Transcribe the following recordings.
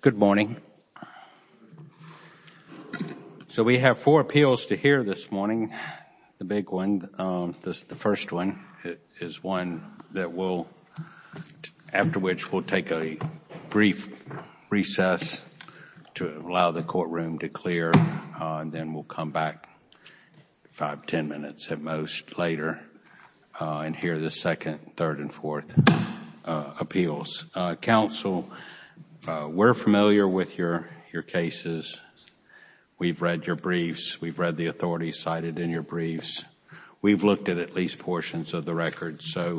Good morning. So we have four appeals to hear this morning. The big one, the first one, is one that will, after which we'll take a brief recess to allow the courtroom to clear and then we'll come back five, ten minutes at most later and hear the second, third, and fourth appeals. Counsel, we're familiar with your cases. We've read your briefs. We've read the authorities cited in your briefs. We've looked at at least portions of the records, so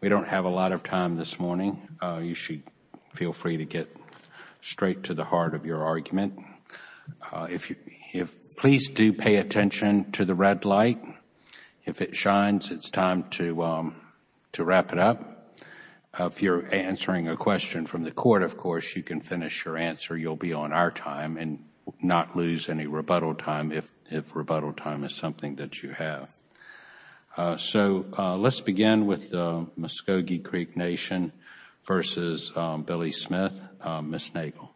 we don't have a lot of time this morning. You should feel free to get straight to the heart of your argument. Please do pay attention to the red light. If it shines, it's time to wrap it up. If you're answering a question from the court, of course, you can finish your answer. You'll be on our time and not lose any rebuttal time if rebuttal time is something that you have. So, let's begin with Muscogee Creek Nation versus Billy Smith, Ms. Nagel.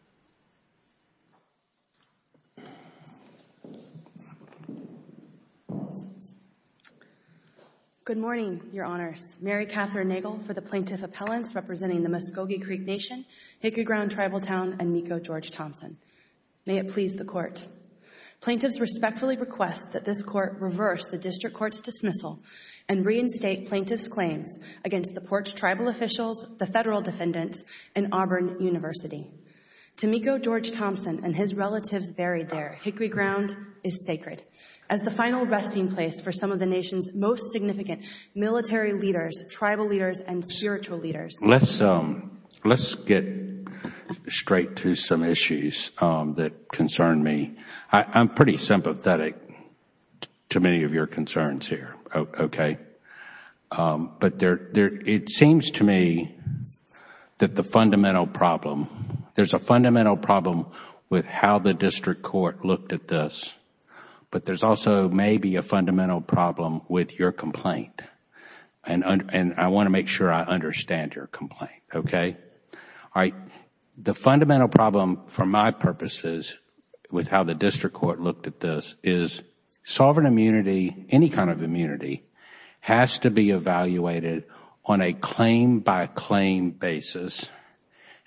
Good morning, Your Honors. Mary Catherine Nagel for the plaintiff appellants representing the Muscogee Creek Nation, Hickory Ground Tribal Town, and Meeko George-Thompson. May it please the court. Plaintiffs respectfully request that this court reverse the district court's dismissal and reinstate plaintiffs' claims against the porch tribal officials, the federal defendants, and Auburn University. To Meeko George-Thompson and his relatives buried there, Hickory Ground is sacred as the final resting place for some of the nation's most significant military leaders, tribal leaders, and spiritual leaders. Let's get straight to some issues that concern me. I'm pretty sympathetic to many of your concerns here, okay? It seems to me that the fundamental problem, there's a fundamental problem with how the district court looked at this, but there's also maybe a fundamental problem with your complaint. I want to make sure I understand your complaint, okay? The fundamental problem, for my purposes, with how the district court looked at this is sovereign immunity, any kind of immunity, has to be evaluated on a claim by claim basis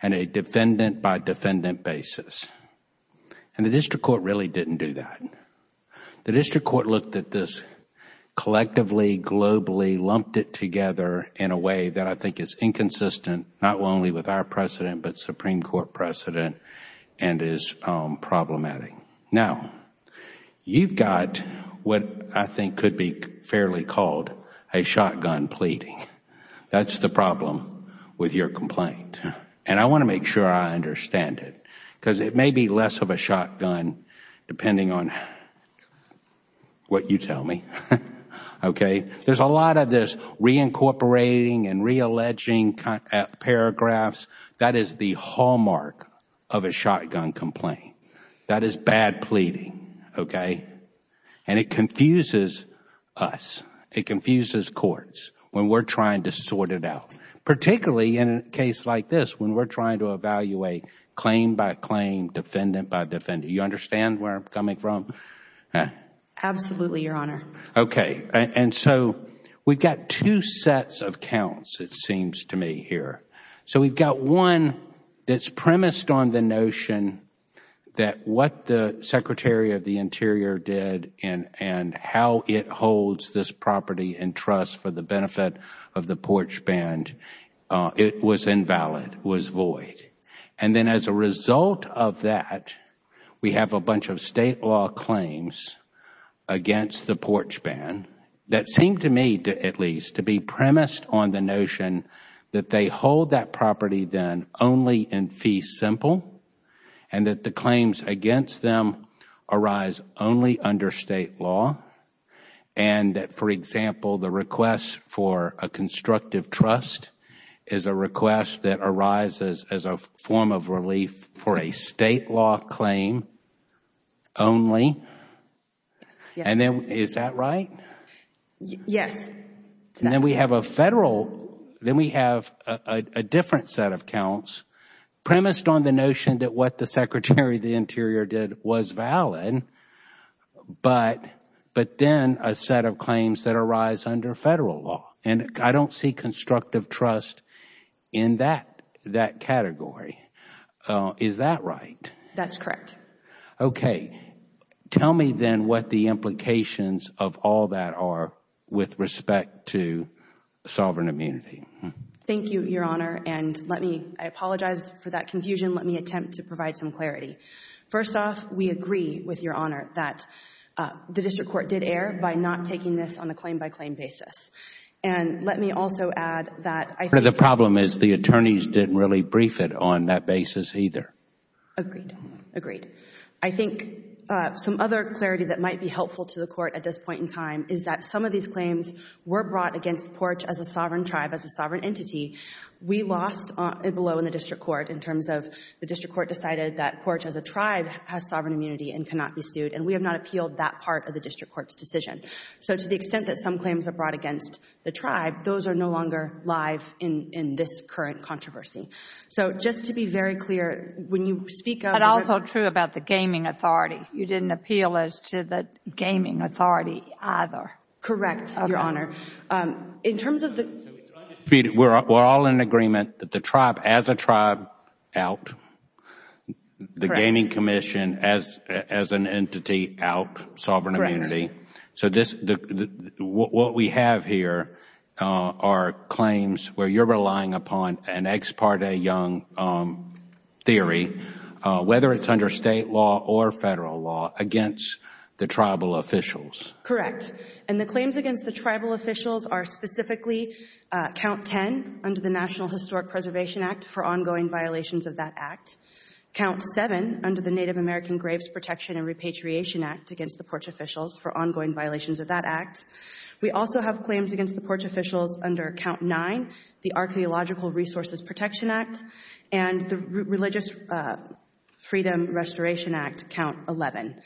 and a defendant by defendant basis. The district court really didn't do that. The district court looked at this collectively, globally, lumped it together in a way that I think is inconsistent, not only with our precedent, but Supreme Court precedent and is problematic. Now, you've got what I think could be fairly called a shotgun pleading. That's the problem with your complaint. I want to make sure I understand it, because it may be less of a shotgun depending on how you look at it, what you tell me, okay? There's a lot of this reincorporating and realleging paragraphs. That is the hallmark of a shotgun complaint. That is bad pleading, okay? And it confuses us. It confuses courts when we're trying to sort it out, particularly in a case like this, when we're trying to evaluate claim by claim, defendant by defendant. Do you understand where I'm coming from? Absolutely, Your Honor. Okay. And so we've got two sets of counts, it seems to me here. So we've got one that's premised on the notion that what the Secretary of the Interior did and how it holds this property in trust for the benefit of the porch band, it was invalid, was void. And then as a result of that, we have a bunch of State law claims against the porch band that seem to me, at least, to be premised on the notion that they hold that property then only in fee simple and that the claims against them arise only under State law. And that, for example, the request for a constructive trust is a request that arises as a form of relief for a State law claim only. And then, is that right? Yes. And then we have a Federal, then we have a different set of counts premised on the notion that what the Secretary of the Interior did was valid, but then a set of claims that arise under Federal law. And I don't see constructive trust in that category. Is that right? That's correct. Okay. Tell me then what the implications of all that are with respect to sovereign immunity. Thank you, Your Honor. And let me, I apologize for that confusion. Let me attempt to provide some clarity. First off, we agree with Your Honor that the District Court did err by not taking this on a claim-by-claim basis. And let me also add that I think... The problem is the attorneys didn't really brief it on that basis either. Agreed. Agreed. I think some other clarity that might be helpful to the Court at this point in time is that some of these claims were brought against porch as a sovereign tribe, as a sovereign entity. We lost below in the District Court in terms of the District Court decided that porch as a tribe has sovereign immunity and cannot be sued, and we have not appealed that part of the District Court's decision. So to the extent that some claims are brought against the tribe, those are no longer live in this current controversy. So just to be very clear, when you speak of... But also true about the gaming authority. You didn't appeal as to the gaming authority either. Correct, Your Honor. In terms of the... We're all in agreement that the tribe, as a tribe, out. The gaming commission, as an entity, out, sovereign immunity. So what we have here are claims where you're relying upon an ex parte young theory, whether it's under State law or Federal law, against the tribal officials. Correct. And the claims against the tribal officials are specifically count 10 under the National Historic Preservation Act for ongoing violations of that act, count 7 under the Native American Graves Protection and Repatriation Act against the porch officials for ongoing violations of that act. We also have claims against the porch officials under count 9, the Archaeological Resources Protection Act, and the Religious Freedom Restoration Act, count 11.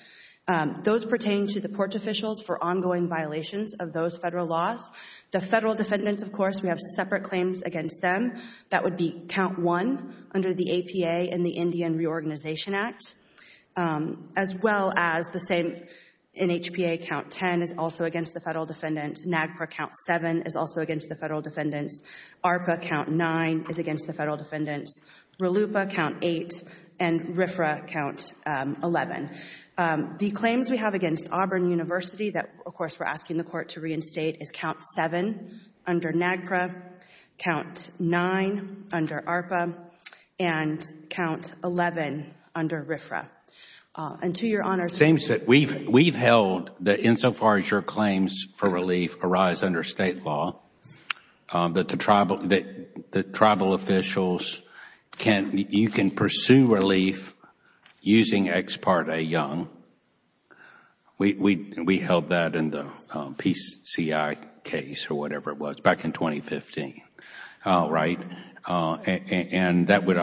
Those pertain to the porch officials for ongoing violations of those Federal laws. The Federal defendants, of course, we have separate claims against them. That would be count 1 under the APA and the Indian Reorganization Act, as well as the same in HPA, count 10 is also against the Federal defendants. NAGPRA, count 7, is also against the Federal defendants. ARPA, count 9, is against the Federal defendants. RLUIPA, count 8, and RFRA, count 11. The claims we have against Auburn University that, of course, we're asking the court to reinstate is count 7 under NAGPRA, count 9 under ARPA, and count 11 under RFRA. And to your honors... It seems that we've held that insofar as your claims for relief arise under State law, that the Tribal officials can pursue relief using Ex Parte Young. We held that in the PCI case, or whatever it was, back in 2015, right? And that would...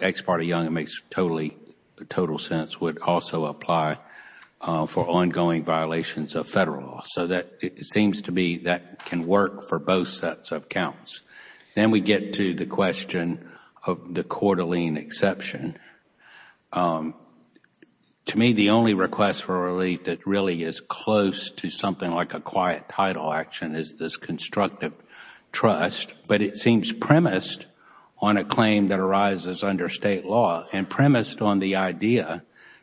Ex Parte Young, it makes total sense, would also apply for ongoing violations of Federal law. So that seems to be that can work for both sets of counts. Then we get to the question of the Coeur d'Alene exception. To me, the only request for relief that really is close to something like a quiet title action is this constructive trust. But it seems premised on a claim that arises under State law, and premised on the idea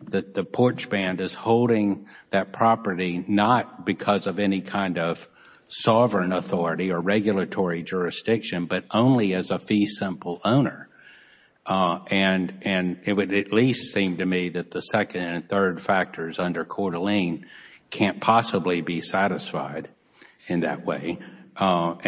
that the porch band is holding that property not because of any kind of sovereign authority or regulatory jurisdiction, but only as a fee simple owner. And it would at least seem to me that the second and third factors under Coeur d'Alene can't possibly be satisfied in that way. But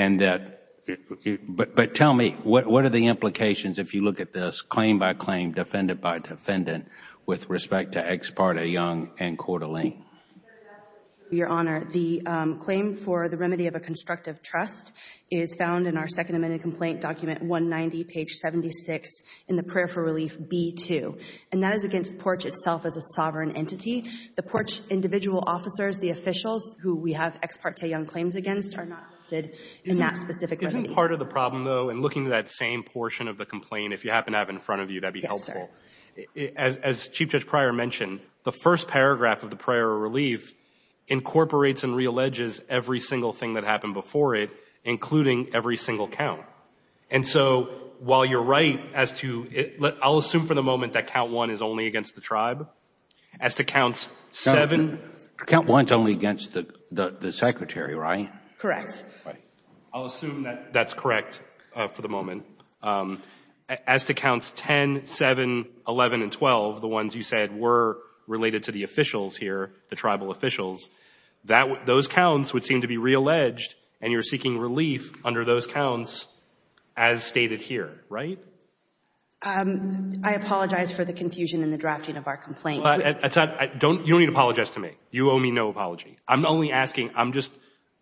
tell me, what are the implications if you look at this claim by claim, defendant by defendant, with respect to Ex Parte Young and Coeur d'Alene? Your Honor, the claim for the remedy of a constructive trust is found in our Second Amendment complaint document 190, page 76, in the prayer for relief B-2. And that is against porch itself as a sovereign entity. The porch individual officers, the officials who we have Ex Parte Young claims against, are not listed in that specific remedy. Isn't part of the problem, though, in looking at that same portion of the complaint, if you happen to have it in front of you, that would be helpful. As Chief Judge Pryor mentioned, the first paragraph of the prayer of relief incorporates and realleges every single thing that happened before it, including every single count. And so, while you're right as to, I'll assume for the moment that count one is only against the tribe, as to counts seven. Count one is only against the secretary, right? Correct. I'll assume that that's correct for the moment. As to counts 10, 7, 11, and 12, the ones you said were related to the officials here, the tribal officials, those counts would seem to be realleged, and you're seeking relief under those counts as stated here, right? I apologize for the confusion in the drafting of our complaint. You don't need to apologize to me. You owe me no apology. I'm only asking, I'm just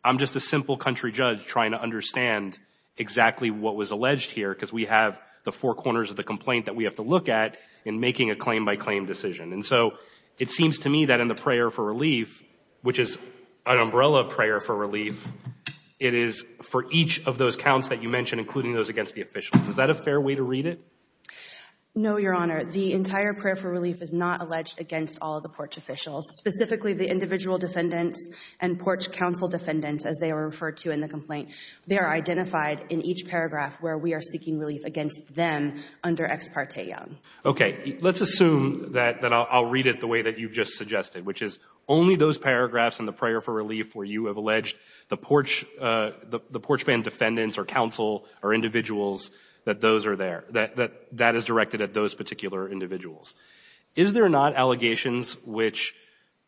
a simple country judge trying to understand exactly what was alleged here, because we have the four corners of the complaint that we have to look at in making a claim-by-claim decision. And so, it seems to me that in the prayer for relief, which is an umbrella prayer for relief, it is for each of those counts that you mentioned, including those against the officials. Is that a fair way to read it? No, Your Honor. The entire prayer for relief is not alleged against all of the porch officials, specifically the individual defendants and porch counsel defendants, as they are referred to in the complaint. They are identified in each paragraph where we are seeking relief against them under Ex Parte Young. Okay. Let's assume that I'll read it the way that you've just suggested, which is only those paragraphs in the prayer for relief where you have alleged the porchman defendants or counsel or individuals, that those are there, that that is directed at those particular individuals. Is there not allegations which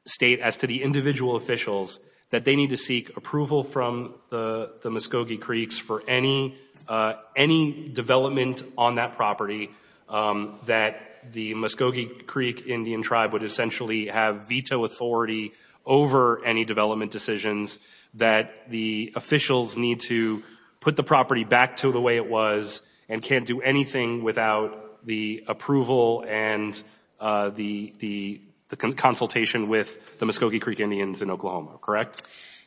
state, as to the individual officials, that they need to seek approval from the Muscogee Creeks for any development on that property, that the Muscogee Creek Indian Tribe would essentially have veto authority over any development decisions, that the officials need to put the property back to the way it was and can't do anything without the approval and the consultation with the Muscogee Creek Indians in Oklahoma, correct?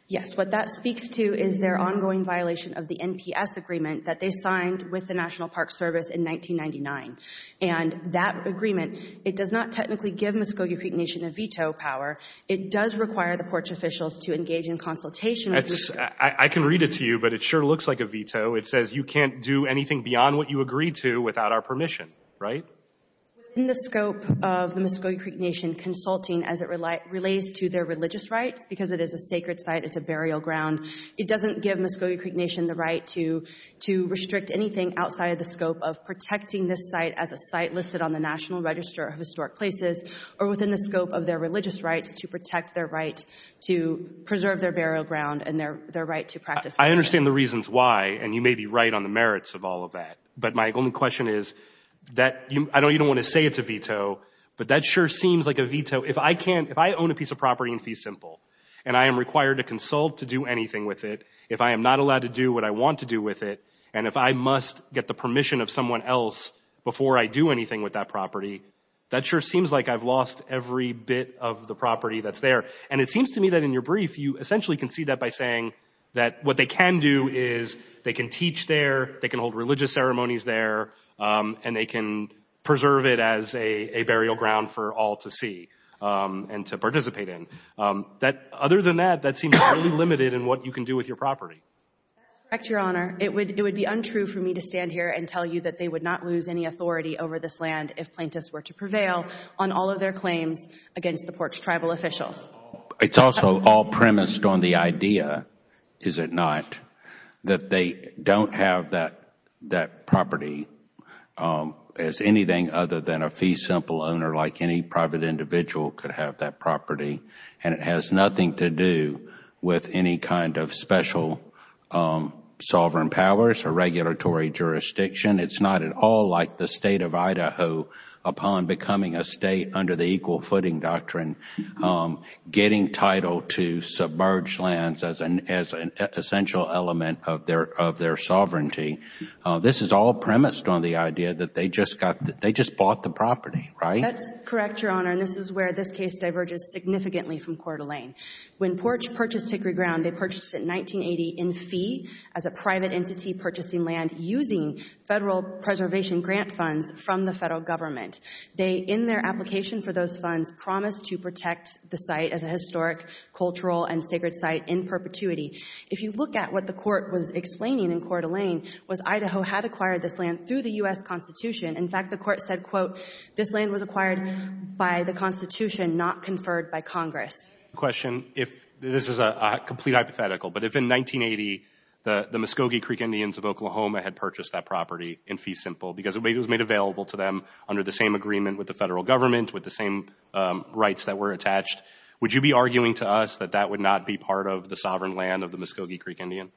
Yes. What that speaks to is their ongoing violation of the NPS agreement that they signed with the National Park Service in 1999. And that agreement, it does not technically give Muscogee Creek Nation a veto power. It does require the porch officials to engage in consultation with the... I can read it to you, but it sure looks like a veto. It says you can't do anything beyond what you agreed to without our permission, right? Within the scope of the Muscogee Creek Nation consulting as it relates to their religious rights, because it is a sacred site, it's a burial ground, it doesn't give Muscogee Creek Nation the right to restrict anything outside of the scope of protecting this site as a site listed on the National Register of Historic Places or within the scope of their religious rights to protect their right to preserve their burial ground and their right to practice... I understand the reasons why, and you may be right on the merits of all of that. But my only question is, I know you don't want to say it's a veto, but that sure seems like a veto. If I own a piece of property in Fee Simple and I am required to consult to do anything with it, if I am not allowed to do what I want to do with it, and if I must get the permission of someone else before I do anything with that property, that sure seems like I've lost every bit of the property that's there. And it seems to me that in your brief, you essentially can see that by saying that what they can do is they can teach there, they can hold religious ceremonies there, and they can preserve it as a burial ground for all to see and to participate in. Other than that, that seems really limited in what you can do with your property. That's correct, Your Honor. It would be untrue for me to stand here and tell you that they would not lose any authority over this land if plaintiffs were to prevail on all of their claims against the porch tribal officials. It's also all premised on the idea, is it not, that they don't have that property as anything other than a Fee Simple owner, like any private individual could have that property. And it has nothing to do with any kind of special sovereign powers or regulatory jurisdiction. It's not at all like the State of Idaho upon becoming a State under the equal footing doctrine. Getting title to submerge lands as an essential element of their sovereignty. This is all premised on the idea that they just bought the property, right? That's correct, Your Honor. And this is where this case diverges significantly from Coeur d'Alene. When Porch purchased Hickory Ground, they purchased it in 1980 in fee as a private entity purchasing land using federal preservation grant funds from the federal government. They, in their application for those funds, promised to protect the site as a historic, cultural, and sacred site in perpetuity. If you look at what the Court was explaining in Coeur d'Alene, was Idaho had acquired this land through the U.S. Constitution. In fact, the Court said, quote, this land was acquired by the Constitution, not conferred by Congress. The question, if this is a complete hypothetical, but if in 1980 the Muscogee Creek Indians of Oklahoma had purchased that property in Fee Simple because it was made available to them under the same agreement with the federal government, with the same rights that were attached, would you be arguing to us that that would not be part of the sovereign land of the Muscogee Creek Indian?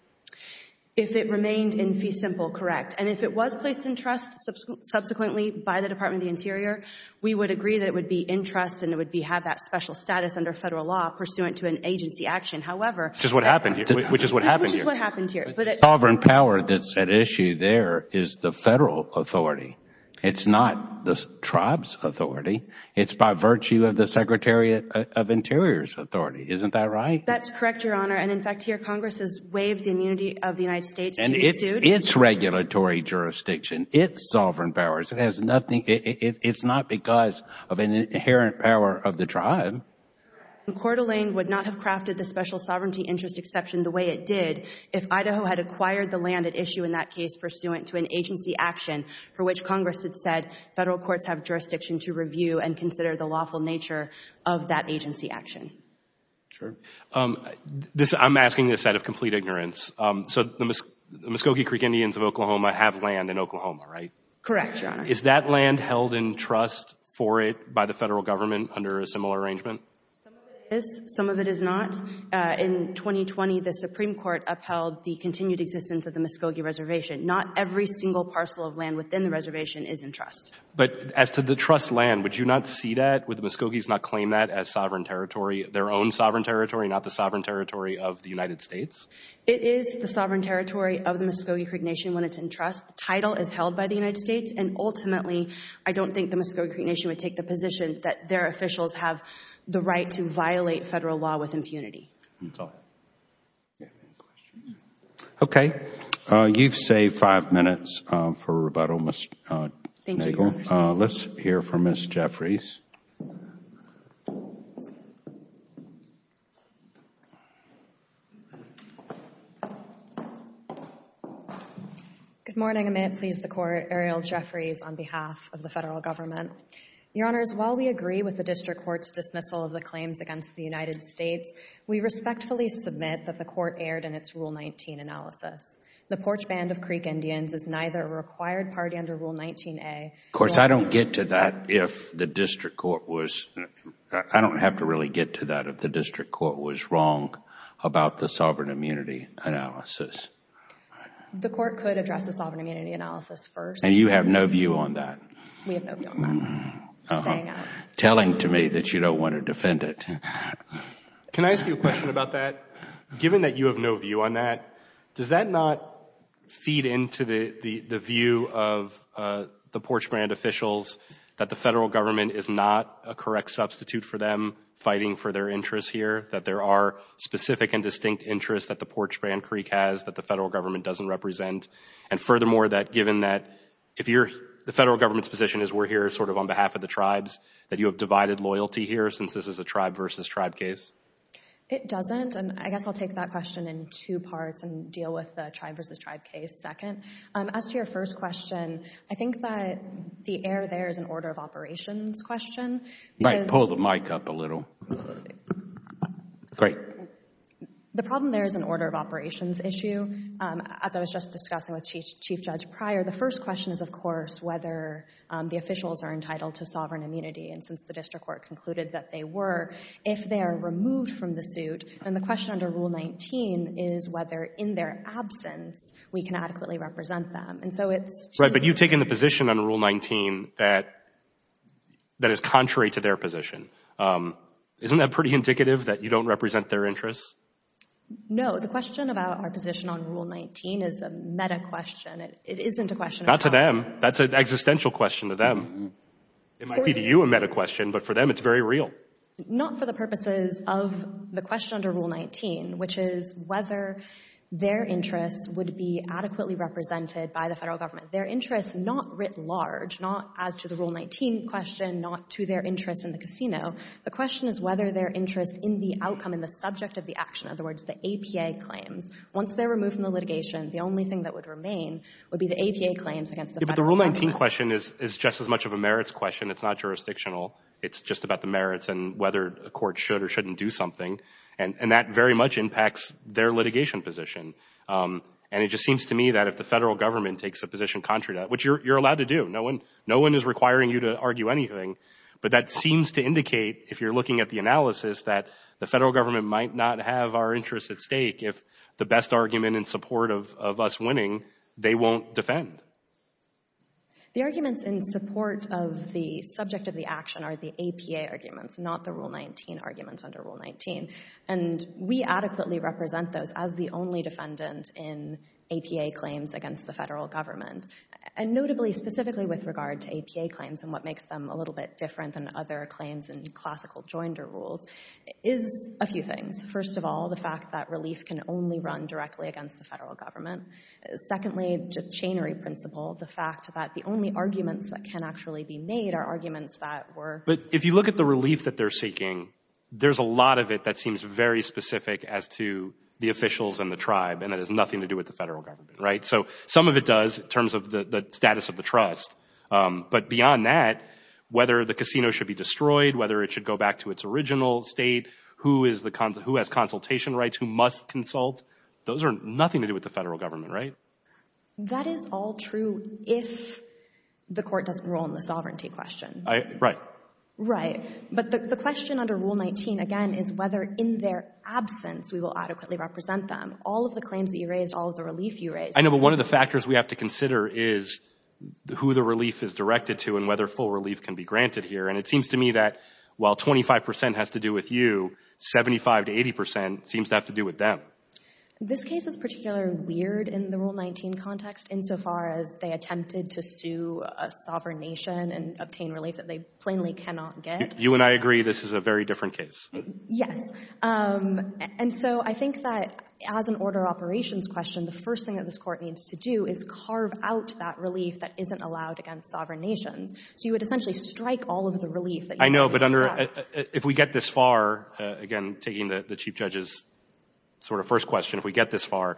If it remained in Fee Simple, correct. And if it was placed in trust subsequently by the Department of the Interior, we would agree that it would be in trust and it would have that special status under federal law pursuant to an agency action. However— Which is what happened here. Which is what happened here. Which is what happened here. The sovereign power that's at issue there is the federal authority. It's not the tribe's authority. It's by virtue of the Secretary of Interior's authority. Isn't that right? That's correct, Your Honor. And, in fact, here Congress has waived the immunity of the United States to be sued. It's regulatory jurisdiction. It's sovereign powers. It has nothing—it's not because of an inherent power of the tribe. Coeur d'Alene would not have crafted the special sovereignty interest exception the way it did if Idaho had acquired the land at issue in that case pursuant to an agency action for which Congress had said federal courts have jurisdiction to review and consider the lawful nature of that agency action. Sure. This—I'm asking this out of complete ignorance. So the Muscogee Creek Indians of Oklahoma have land in Oklahoma, right? Correct, Your Honor. Is that land held in trust for it by the federal government under a similar arrangement? Some of it is. Some of it is not. In 2020, the Supreme Court upheld the continued existence of the Muscogee Reservation. Not every single parcel of land within the reservation is in trust. But as to the trust land, would you not see that, would the Muscogees not claim that as sovereign territory, their own sovereign territory, not the sovereign territory of the United States? It is the sovereign territory of the Muscogee Creek Nation when it's in trust. The title is held by the United States. And ultimately, I don't think the Muscogee Creek Nation would take the position that their officials have the right to violate federal law with impunity. That's all. Any questions? Okay. You've saved five minutes for rebuttal, Ms. Nagel. Thank you, Your Honor. Let's hear from Ms. Jeffries. Good morning. And may it please the Court, Ariel Jeffries on behalf of the federal government. Your Honors, while we agree with the district court's dismissal of the claims against the United States, we respectfully submit that the court erred in its Rule 19 analysis. The Porch Band of Creek Indians is neither a required party under Rule 19A nor— Of course, I don't get to that if the district court was—I don't have to really get to that if the district court was wrong about the sovereign immunity analysis. The court could address the sovereign immunity analysis first. And you have no view on that? We have no view on that. Staying on. Telling to me that you don't want to defend it. Can I ask you a question about that? Given that you have no view on that, does that not feed into the view of the Porch Band officials that the federal government is not a correct substitute for them fighting for their interests here, that there are specific and distinct interests that the Porch Band Creek has that the federal government doesn't represent? And furthermore, that given that the federal government's position is we're here sort of on behalf of the tribes, that you have divided loyalty here since this is a tribe versus tribe case? It doesn't. And I guess I'll take that question in two parts and deal with the tribe versus tribe case second. As to your first question, I think that the error there is an order of operations question. You might pull the mic up a little. Great. The problem there is an order of operations issue. As I was just discussing with Chief Judge Pryor, the first question is, of course, whether the officials are entitled to sovereign immunity, and since the district court concluded that they were, if they are removed from the suit, then the question under Rule 19 is whether in their absence we can adequately represent them. And so it's... Right, but you've taken the position under Rule 19 that is contrary to their position. Isn't that pretty indicative that you don't represent their interests? No. The question about our position on Rule 19 is a meta question. It isn't a question... Not to them. That's an existential question to them. It might be to you a meta question, but for them it's very real. Not for the purposes of the question under Rule 19, which is whether their interests would be adequately represented by the federal government. Their interests, not writ large, not as to the Rule 19 question, not to their interest in the casino, the question is whether their interest in the outcome, in the subject of the action, in other words, the APA claims, once they're removed from the litigation, the only thing that would remain would be the APA claims against the federal government. Yeah, but the Rule 19 question is just as much of a merits question. It's not jurisdictional. It's just about the merits and whether a court should or shouldn't do something. And that very much impacts their litigation position. And it just seems to me that if the federal government takes a position contrary to that, which you're allowed to do. No one is requiring you to argue anything, but that seems to indicate, if you're looking at the analysis, that the federal government might not have our interests at stake if the best argument in support of us winning, they won't defend. The arguments in support of the subject of the action are the APA arguments, not the Rule 19 arguments under Rule 19. And we adequately represent those as the only defendant in APA claims against the federal government. And notably, specifically with regard to APA claims and what makes them a little bit different than other claims and classical joinder rules, is a few things. First of all, the fact that relief can only run directly against the federal government. Secondly, the chainery principle, the fact that the only arguments that can actually be made are arguments that were— But if you look at the relief that they're seeking, there's a lot of it that seems very specific as to the officials and the tribe, and it has nothing to do with the federal government, right? So some of it does in terms of the status of the trust. But beyond that, whether the casino should be destroyed, whether it should go back to its original state, who has consultation rights, who must consult, those are nothing to do with the federal government, right? That is all true if the court doesn't rule on the sovereignty question. Right. Right. But the question under Rule 19, again, is whether in their absence we will adequately represent them. All of the claims that you raised, all of the relief you raised— I know, but one of the factors we have to consider is who the relief is directed to and whether full relief can be granted here, and it seems to me that while 25 percent has to do with you, 75 to 80 percent seems to have to do with them. This case is particularly weird in the Rule 19 context, insofar as they attempted to sue a sovereign nation and obtain relief that they plainly cannot get. You and I agree this is a very different case. Yes. And so I think that as an order of operations question, the first thing that this court needs to do is carve out that relief that isn't allowed against sovereign nations. So you would essentially strike all of the relief that you have addressed. I know, but under—if we get this far, again, taking the Chief Judge's sort of first question, if we get this far,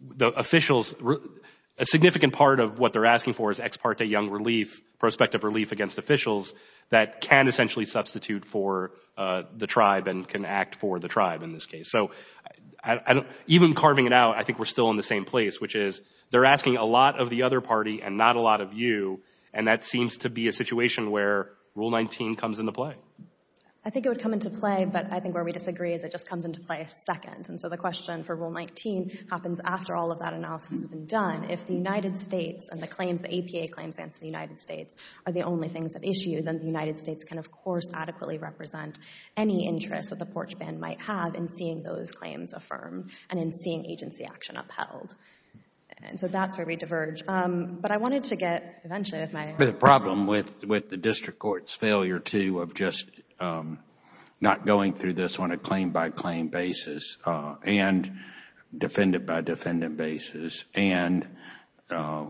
the officials—a significant part of what they're asking for is ex parte young relief, prospective relief against officials that can essentially substitute for the tribe and can act for the tribe in this case. So even carving it out, I think we're still in the same place, which is they're asking a lot of the other party and not a lot of you, and that seems to be a situation where Rule 19 comes into play. I think it would come into play, but I think where we disagree is it just comes into play a second. And so the question for Rule 19 happens after all of that analysis has been done. If the United States and the claims, the APA claims against the United States are the only things at issue, then the United States can, of course, adequately represent any interest that the porch band might have in seeing those claims affirmed and in seeing agency action upheld. And so that's where we diverge. But I wanted to get, eventually, with my— But the problem with the district court's failure to—of just not going through this on a claim-by-claim basis and defendant-by-defendant basis and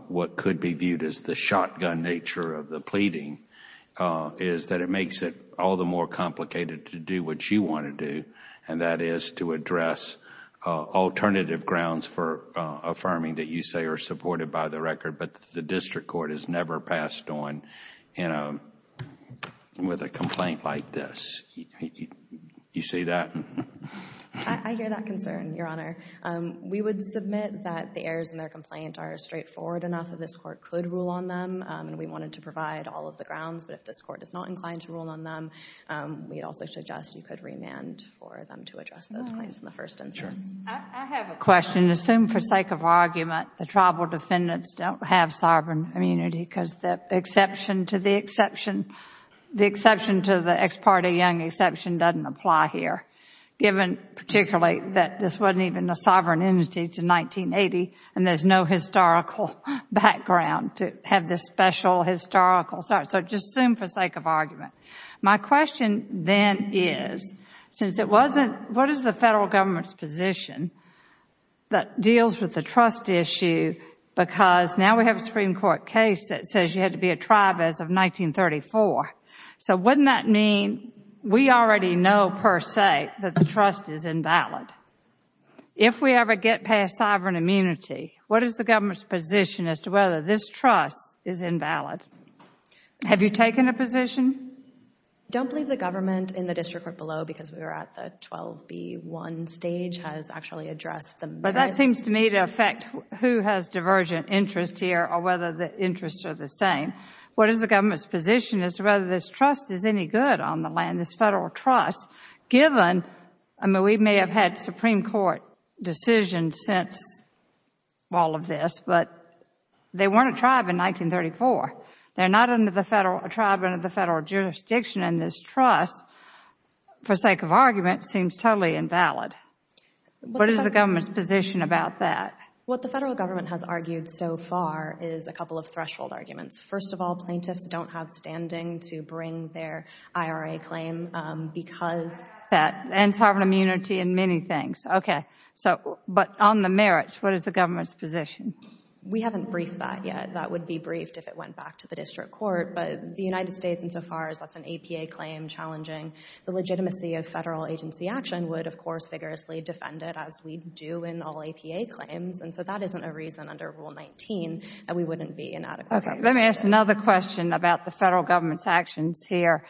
what could be viewed as the shotgun nature of the pleading is that it makes it all the more complicated to do what you want to do, and that is to address alternative grounds for affirming that you say are supported by the record, but the district court has never passed on with a complaint like this. You see that? I hear that concern, Your Honor. We would submit that the errors in their complaint are straightforward enough that this Court could rule on them, and we wanted to provide all of the grounds, but if this Court is not inclined to rule on them, we'd also suggest you could remand for them to address those claims in the first instance. I have a question. Assume, for sake of argument, the tribal defendants don't have sovereign immunity because the exception to the exception—the exception to the ex parte young exception doesn't apply here, given, particularly, that this wasn't even a sovereign entity until 1980 and there's no historical background to have this special historical—so just assume for sake of argument. My question then is, since it wasn't—what is the Federal Government's position that deals with the trust issue because now we have a Supreme Court case that says you had to be a tribe as of 1934, so wouldn't that mean we already know, per se, that the trust is invalid? If not, if we ever get past sovereign immunity, what is the Government's position as to whether this trust is invalid? Have you taken a position? Don't believe the Government in the District Court below, because we were at the 12B1 stage, has actually addressed them. But that seems to me to affect who has divergent interests here or whether the interests are the same. What is the Government's position as to whether this trust is any good on the land, in this Federal trust, given—I mean, we may have had Supreme Court decisions since all of this, but they weren't a tribe in 1934. They're not a tribe under the Federal jurisdiction and this trust, for sake of argument, seems totally invalid. What is the Government's position about that? What the Federal Government has argued so far is a couple of threshold arguments. First of all, plaintiffs don't have standing to bring their IRA claim because— And sovereign immunity and many things. But on the merits, what is the Government's position? We haven't briefed that yet. That would be briefed if it went back to the District Court. But the United States, insofar as that's an APA claim challenging the legitimacy of Federal agency action, would, of course, vigorously defend it, as we do in all APA claims. And so that isn't a reason, under Rule 19, that we wouldn't be inadequate. Okay. Let me ask another question about the Federal Government's actions here.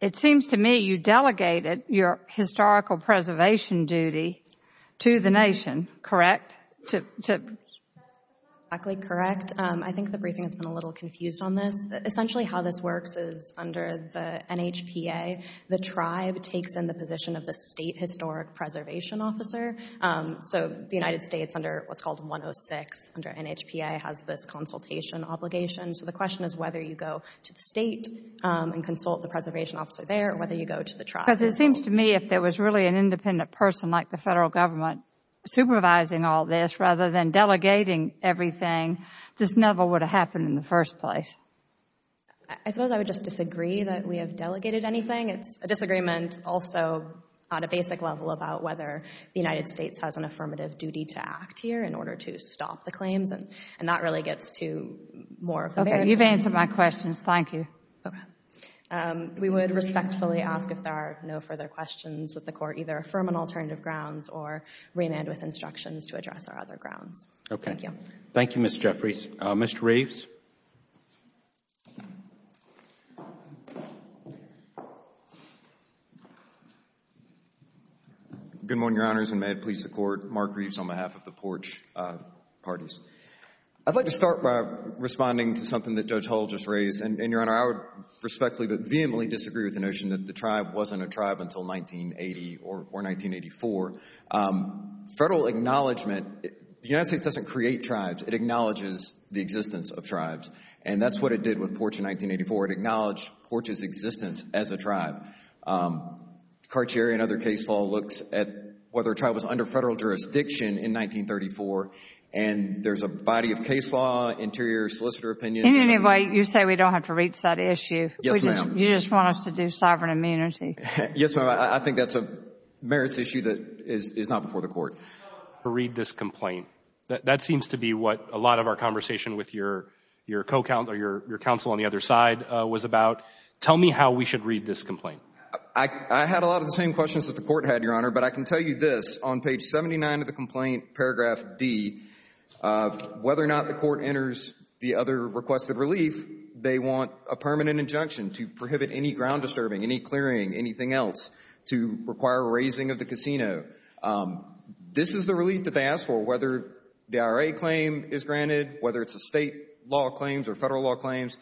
It seems to me you delegated your historical preservation duty to the Nation, correct? To— That's not exactly correct. I think the briefing has been a little confused on this. Essentially how this works is, under the NHPA, the tribe takes in the position of the State Historic Preservation Officer. So the United States, under what's called 106, under NHPA, has this consultation obligation. So the question is whether you go to the State and consult the Preservation Officer there or whether you go to the tribe. Because it seems to me if there was really an independent person like the Federal Government supervising all this, rather than delegating everything, this never would have happened in the first place. I suppose I would just disagree that we have delegated anything. It's a disagreement also on a basic level about whether the United States has an affirmative duty to act here in order to stop the claims. And that really gets to more of the very— You've answered my questions. Thank you. Okay. We would respectfully ask if there are no further questions, would the Court either affirm on alternative grounds or remand with instructions to address our other grounds? Okay. Thank you. Thank you, Ms. Jeffries. Mr. Reeves? Good morning, Your Honors, and may it please the Court. Mark Reeves on behalf of the Porch Parties. I'd like to start by responding to something that Judge Hull just raised. And, Your Honor, I would respectfully but vehemently disagree with the notion that the tribe wasn't a tribe until 1980 or 1984. Federal acknowledgment—the United States doesn't create tribes. It acknowledges the existence of tribes. And that's what it did with Porch in 1984. It acknowledged Porch's existence as a tribe. Cartier and other case law looks at whether a tribe was under federal jurisdiction in 1934, and there's a body of case law, interior solicitor opinions— In any way, you say we don't have to reach that issue. Yes, ma'am. You just want us to do sovereign immunity. Yes, ma'am. I think that's a merits issue that is not before the Court. I'll read this complaint. That seems to be what a lot of our conversation with your counsel on the other side was about. Tell me how we should read this complaint. I had a lot of the same questions that the Court had, Your Honor, but I can tell you this. On page 79 of the complaint, paragraph D, whether or not the Court enters the other requested relief, they want a permanent injunction to prohibit any ground disturbing, any clearing, anything else to require a raising of the casino. This is the relief that they ask for, whether the IRA claim is granted, whether it's a State law claims or Federal law claims.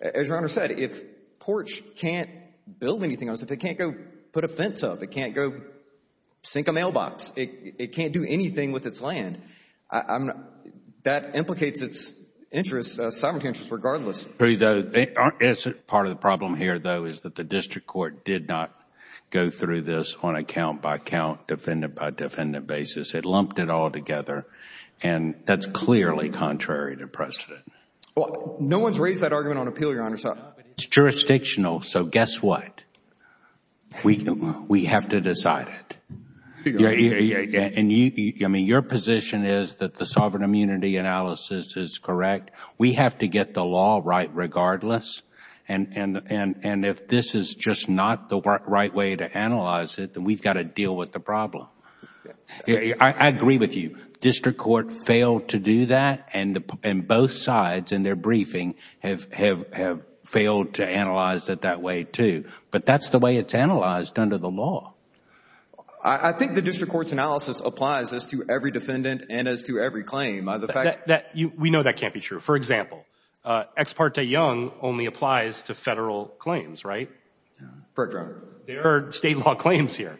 As Your Honor said, if PORCH can't build anything on us, if they can't go put a fence up, if they can't go sink a mailbox, if it can't do anything with its land, that implicates its interests, sovereign interests, regardless. Part of the problem here, though, is that the District Court did not go through this on a count-by-count, defendant-by-defendant basis. It lumped it all together, and that's clearly contrary to precedent. Well, no one's raised that argument on appeal, Your Honor, so... It's jurisdictional, so guess what? We have to decide it. Your position is that the sovereign immunity analysis is correct. We have to get the law right regardless, and if this is just not the right way to analyze it, then we've got to deal with the problem. I agree with you. District Court failed to do that, and both sides in their briefing have failed to analyze it that way, too. But that's the way it's analyzed under the law. I think the District Court's analysis applies as to every defendant and as to every claim. We know that can't be true. For example, Ex parte Young only applies to Federal claims, right? Correct, Your Honor. There are State law claims here,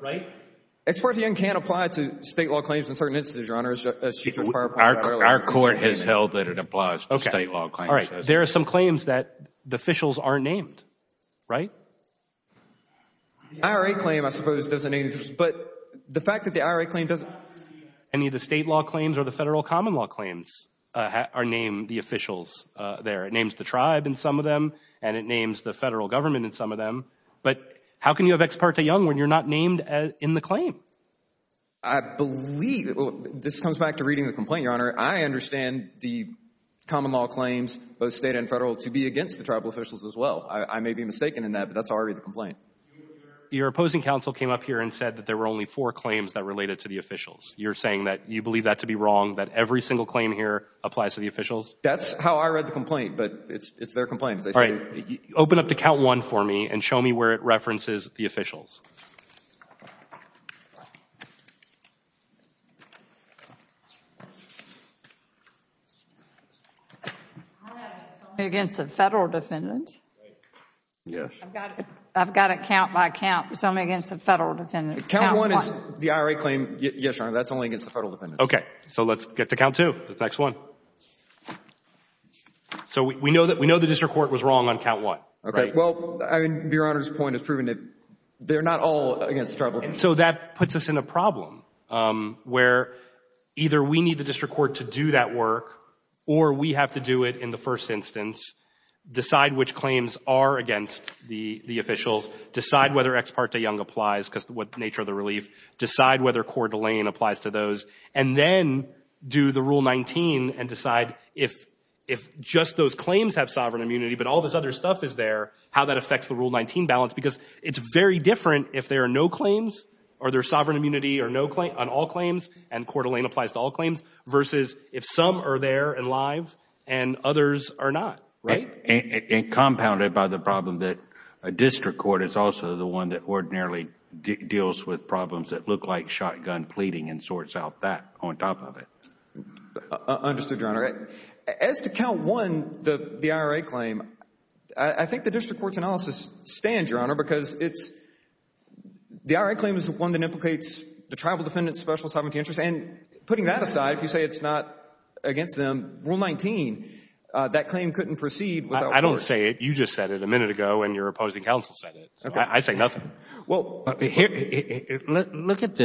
right? Ex parte Young can't apply to State law claims in certain instances, Your Honor, as Chief Judge Parapolo... Our court has held that it applies to State law claims. There are some claims that the officials aren't named, right? The IRA claim, I suppose, doesn't... But the fact that the IRA claim doesn't... Any of the State law claims or the Federal common law claims are named the officials there. It names the tribe in some of them, and it names the Federal government in some of them. But how can you have Ex parte Young when you're not named in the claim? I believe... This comes back to reading the complaint, Your Honor. I understand the common law claims, both State and Federal, to be against the Tribal officials as well. I may be mistaken in that, but that's already the complaint. Your opposing counsel came up here and said that there were only four claims that related to the officials. You're saying that you believe that to be wrong, that every single claim here applies to the officials? That's how I read the complaint, but it's their complaint. Open up to count one for me and show me where it references the officials. It's only against the Federal defendants. Yes. I've got it count by count. It's only against the Federal defendants. Count one is the IRA claim. Yes, Your Honor. That's only against the Federal defendants. Okay. So let's get to count two, the next one. So we know the district court was wrong on count one, right? Well, I mean, Your Honor's point is proven. They're not all against the Tribal defendants. So that puts us in a problem where either we need the district court to do that work or we have to do it in the first instance, decide which claims are against the officials, decide whether Ex parte Young applies because of the nature of the relief, decide whether Coeur d'Alene applies to those, and then do the Rule 19 and decide if just those claims have sovereign immunity, but all this other stuff is there, how that affects the Rule 19 balance because it's very different if there are no claims or there's sovereign immunity on all claims and Coeur d'Alene applies to all claims versus if some are there and live and others are not, right? And compounded by the problem that a district court is also the one that ordinarily deals with problems that look like shotgun pleading and sorts out that on top of it. Understood, Your Honor. As to count one, the IRA claim, I think the district court's analysis stands, Your Honor, because the IRA claim is the one that implicates the Tribal defendants' special sovereignty interests, and putting that aside, if you say it's not against them, Rule 19, that claim couldn't proceed without courts. I don't say it. You just said it a minute ago when your opposing counsel said it. I say nothing. Well, look at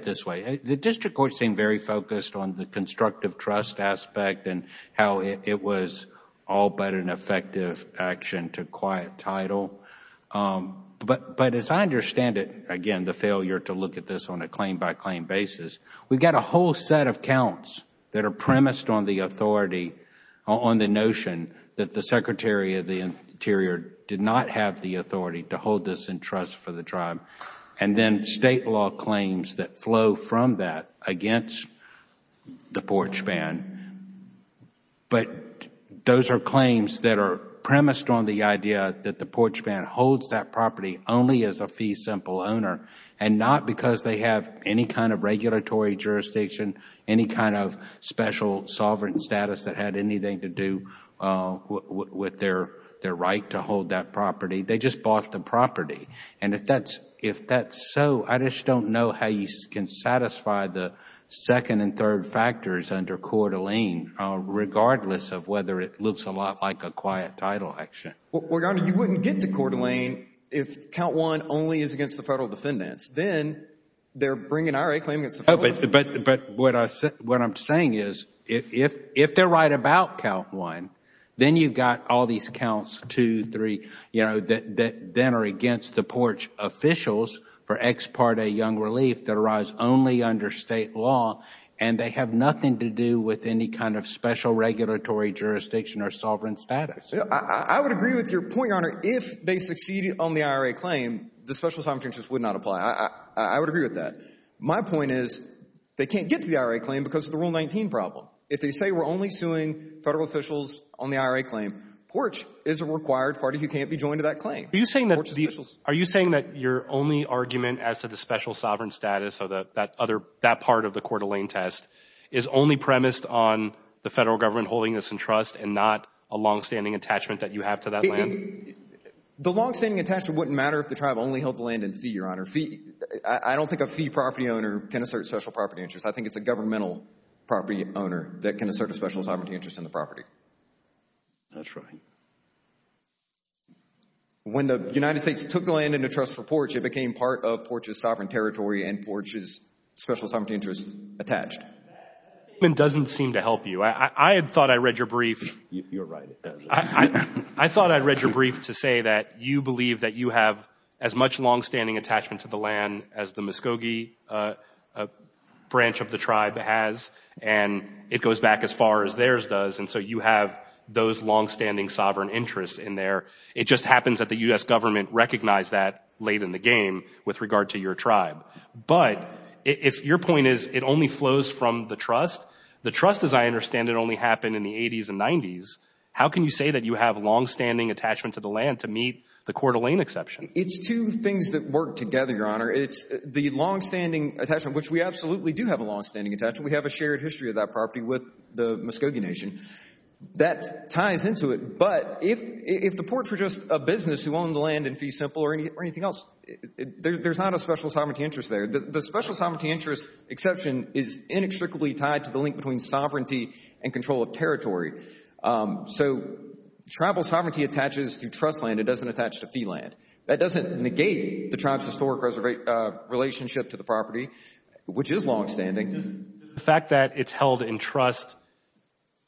it this way. The district court seemed very focused on the constructive trust aspect and how it was all but an effective action to quiet title, but as I understand it, again, the failure to look at this on a claim-by-claim basis, we've got a whole set of counts that are premised on the authority, on the notion that the Secretary of the Interior did not have the authority to hold this in trust for the Tribe, and then state law claims that flow from that against the porch ban. But those are claims that are premised on the idea that the porch ban holds that property only as a fee simple owner and not because they have any kind of regulatory jurisdiction, any kind of special sovereign status that had anything to do with their right to hold that property. They just bought the property, and if that's so, I just don't know how you can satisfy the second and third factors under Coeur d'Alene regardless of whether it looks a lot like a quiet title action. Well, Your Honor, you wouldn't get to Coeur d'Alene if count one only is against the federal defendants. Then they're bringing an IRA claim against the federal defendants. Oh, but what I'm saying is if they're right about count one, then you've got all these counts, two, three, you know, that then are against the porch officials for ex parte young relief that arise only under state law, and they have nothing to do with any kind of special regulatory jurisdiction or sovereign status. I would agree with your point, Your Honor. If they succeed on the IRA claim, the special assignment just would not apply. I would agree with that. My point is they can't get to the IRA claim because of the Rule 19 problem. If they say we're only suing federal officials on the IRA claim, porch is a required party who can't be joined to that claim. Are you saying that your only argument as to the special sovereign status or that part of the Coeur d'Alene test is only premised on the federal government holding this in trust and not a longstanding attachment that you have to that land? The longstanding attachment wouldn't matter if the tribe only held the land in fee, Your I don't think a fee property owner can assert special property interests. I think it's a governmental property owner that can assert a special sovereignty interest in the property. That's right. When the United States took the land into trust for porch, it became part of porch's sovereign territory and porch's special sovereignty interests attached. That statement doesn't seem to help you. I had thought I read your brief. You're right. I thought I read your brief to say that you believe that you have as much longstanding attachment to the land as the Muscogee branch of the tribe has, and it goes back as far as theirs does, and so you have those longstanding sovereign interests in there. It just happens that the U.S. government recognized that late in the game with regard to your tribe. But if your point is it only flows from the trust, the trust, as I understand it, only happened in the 80s and 90s, how can you say that you have longstanding attachment to the land to meet the Coeur d'Alene exception? It's two things that work together, Your Honor. It's the longstanding attachment, which we absolutely do have a longstanding attachment. We have a shared history of that property with the Muscogee Nation. That ties into it. But if the porch were just a business who owned the land in fee simple or anything else, there's not a special sovereignty interest there. The special sovereignty interest exception is inextricably tied to the link between sovereignty and control of territory. So tribal sovereignty attaches to trust land. It doesn't attach to fee land. That doesn't negate the tribe's historic relationship to the property, which is longstanding. Does the fact that it's held in trust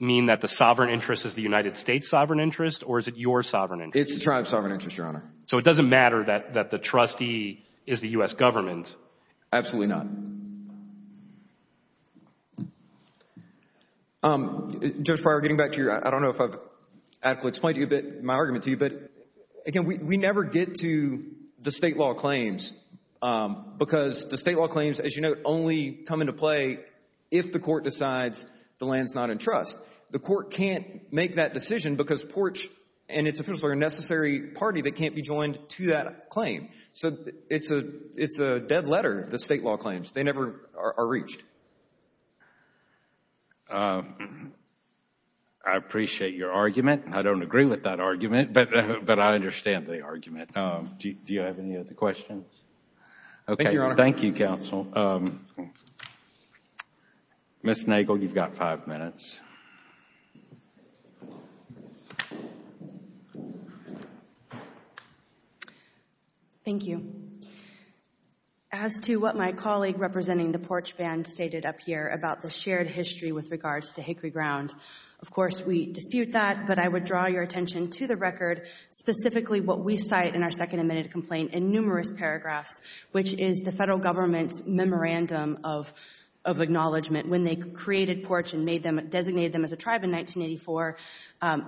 mean that the sovereign interest is the United States sovereign interest or is it your sovereign interest? It's the tribe's sovereign interest, Your Honor. So it doesn't matter that the trustee is the U.S. government? Absolutely not. Judge Pryor, getting back to you, I don't know if I've adequately explained my argument to you, but again, we never get to the state law claims because the state law claims, as you note, only come into play if the court decides the land's not in trust. The court can't make that decision because porch and its official are a necessary party that can't be joined to that claim. So it's a dead letter, the state law claims. They never are reached. I appreciate your argument. I don't agree with that argument, but I understand the argument. Do you have any other questions? Thank you, Your Honor. Thank you, counsel. Ms. Nagel, you've got five minutes. Thank you. As to what my colleague representing the porch band stated up here about the shared history with regards to Hickory Ground, of course we dispute that, but I would draw your attention to the record, specifically what we cite in our second admitted complaint in numerous paragraphs, which is the federal government's memorandum of acknowledgement when they created porch and designated them as a tribe in 1984.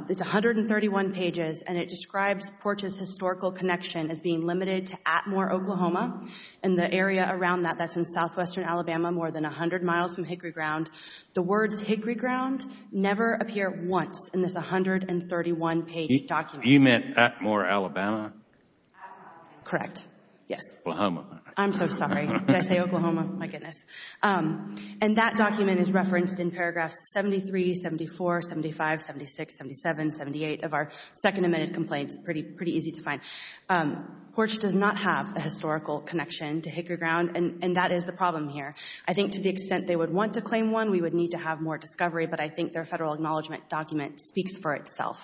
It's 131 pages, and it describes porch's historical connection as being limited to Atmore, Oklahoma, and the area around that, that's in southwestern Alabama, more than 100 miles from Hickory Ground. The words Hickory Ground never appear once in this 131-page document. You meant Atmore, Alabama? Correct, yes. Oklahoma. I'm so sorry. Did I say Oklahoma? My goodness. And that document is referenced in paragraphs 73, 74, 75, 76, 77, 78 of our second admitted complaints, pretty easy to find. Porch does not have the historical connection to Hickory Ground, and that is the problem here. I think to the extent they would want to claim one, we would need to have more discovery, but I think their federal acknowledgement document speaks for itself.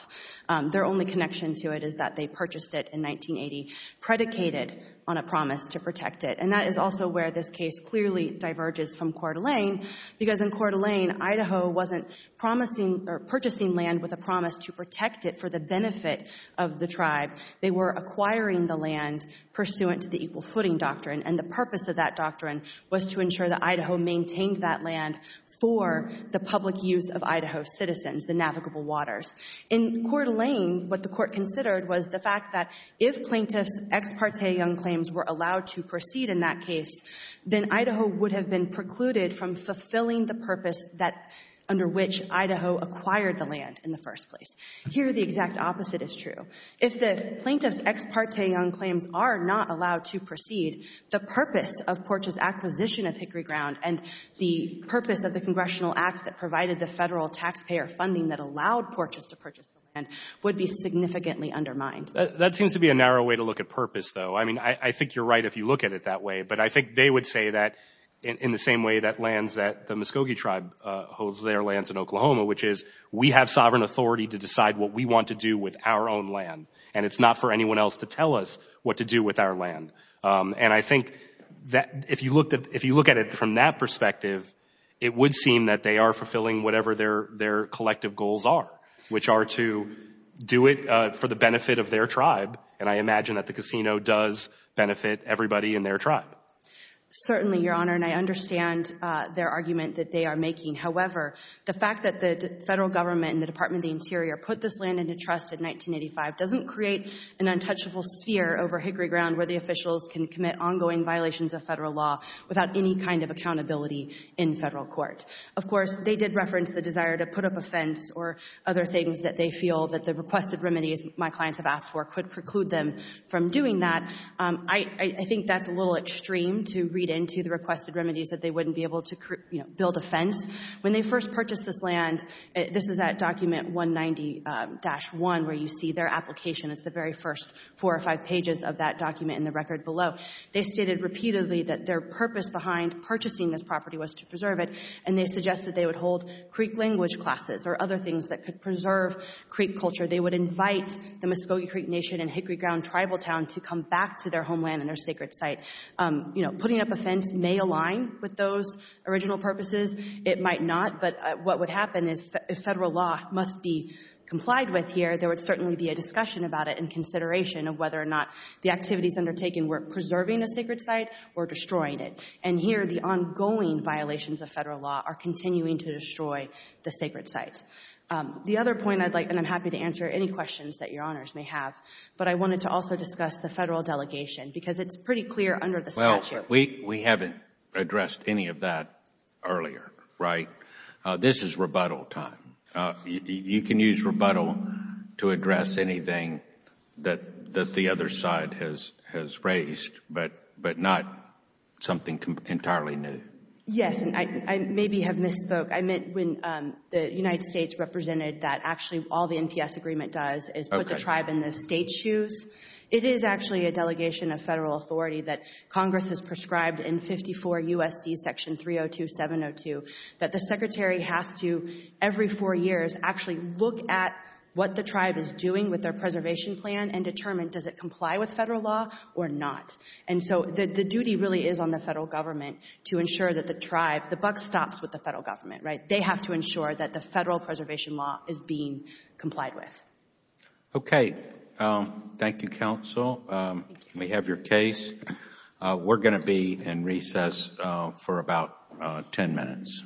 Their only connection to it is that they purchased it in 1980, predicated on a promise to protect it, and that is also where this case clearly diverges from Coeur d'Alene, because in Coeur d'Alene, Idaho wasn't purchasing land with a promise to protect it for the benefit of the tribe. They were acquiring the land pursuant to the equal footing doctrine, and the purpose of that doctrine was to ensure that Idaho maintained that land for the public use of Idaho's citizens, the navigable waters. In Coeur d'Alene, what the Court considered was the fact that if plaintiffs' ex parte young claims were allowed to proceed in that case, then Idaho would have been precluded from fulfilling the purpose under which Idaho acquired the land in the first place. Here, the exact opposite is true. If the plaintiffs' ex parte young claims are not allowed to proceed, the purpose of Porch's acquisition of Hickory Ground and the purpose of the Congressional Act that provided the federal taxpayer funding that allowed Porch's to purchase the land would be significantly undermined. That seems to be a narrow way to look at purpose, though. I mean, I think you're right if you look at it that way, but I think they would say that in the same way that lands that the Muscogee Tribe holds their lands in Oklahoma, which is we have sovereign authority to decide what we want to do with our own land, and it's not for anyone else to tell us what to do with our land. And I think that if you look at it from that perspective, it would seem that they are fulfilling whatever their collective goals are, which are to do it for the benefit of their tribe, and I imagine that the casino does benefit everybody in their tribe. Certainly, Your Honor, and I understand their argument that they are making. However, the fact that the federal government and the Department of the Interior put this land into trust in 1985 doesn't create an untouchable sphere over Hickory Ground where the officials can commit ongoing violations of federal law without any kind of accountability in federal court. Of course, they did reference the desire to put up a fence or other things that they feel that the requested remedies my clients have asked for could preclude them from doing that. I think that's a little extreme to read into the requested remedies that they wouldn't be able to build a fence. When they first purchased this land, this is at document 190-1, where you see their application. It's the very first four or five pages of that document in the record below. They stated repeatedly that their purpose behind purchasing this property was to preserve it, and they suggested they would hold Creek language classes or other things that could preserve Creek culture. They would invite the Muscogee Creek Nation and Hickory Ground Tribal Town to come back to their homeland and their sacred site. You know, putting up a fence may align with those original purposes. It might not. But what would happen is if federal law must be complied with here, there would certainly be a discussion about it and consideration of whether or not the activities undertaken were preserving a sacred site or destroying it. And here, the ongoing violations of federal law are continuing to destroy the sacred site. The other point I'd like, and I'm happy to answer any questions that Your Honors may have, but I wanted to also discuss the federal delegation because it's pretty clear under the statute. Well, we haven't addressed any of that earlier, right? This is rebuttal time. You can use rebuttal to address anything that the other side has raised, but not something entirely new. Yes, and I maybe have misspoke. I meant when the United States represented that actually all the NPS agreement does is put the tribe in the state's shoes. It is actually a delegation of federal authority that Congress has prescribed in 54 U.S.C. section 302, 702, that the secretary has to, every four years, actually look at what the tribe is doing with their preservation plan and determine does it comply with federal law or not. And so the duty really is on the federal government to ensure that the tribe, the buck stops with the federal government, right? They have to ensure that the federal preservation law is being complied with. Okay. Thank you, counsel. Thank you. We have your case. We're going to be in recess for about ten minutes.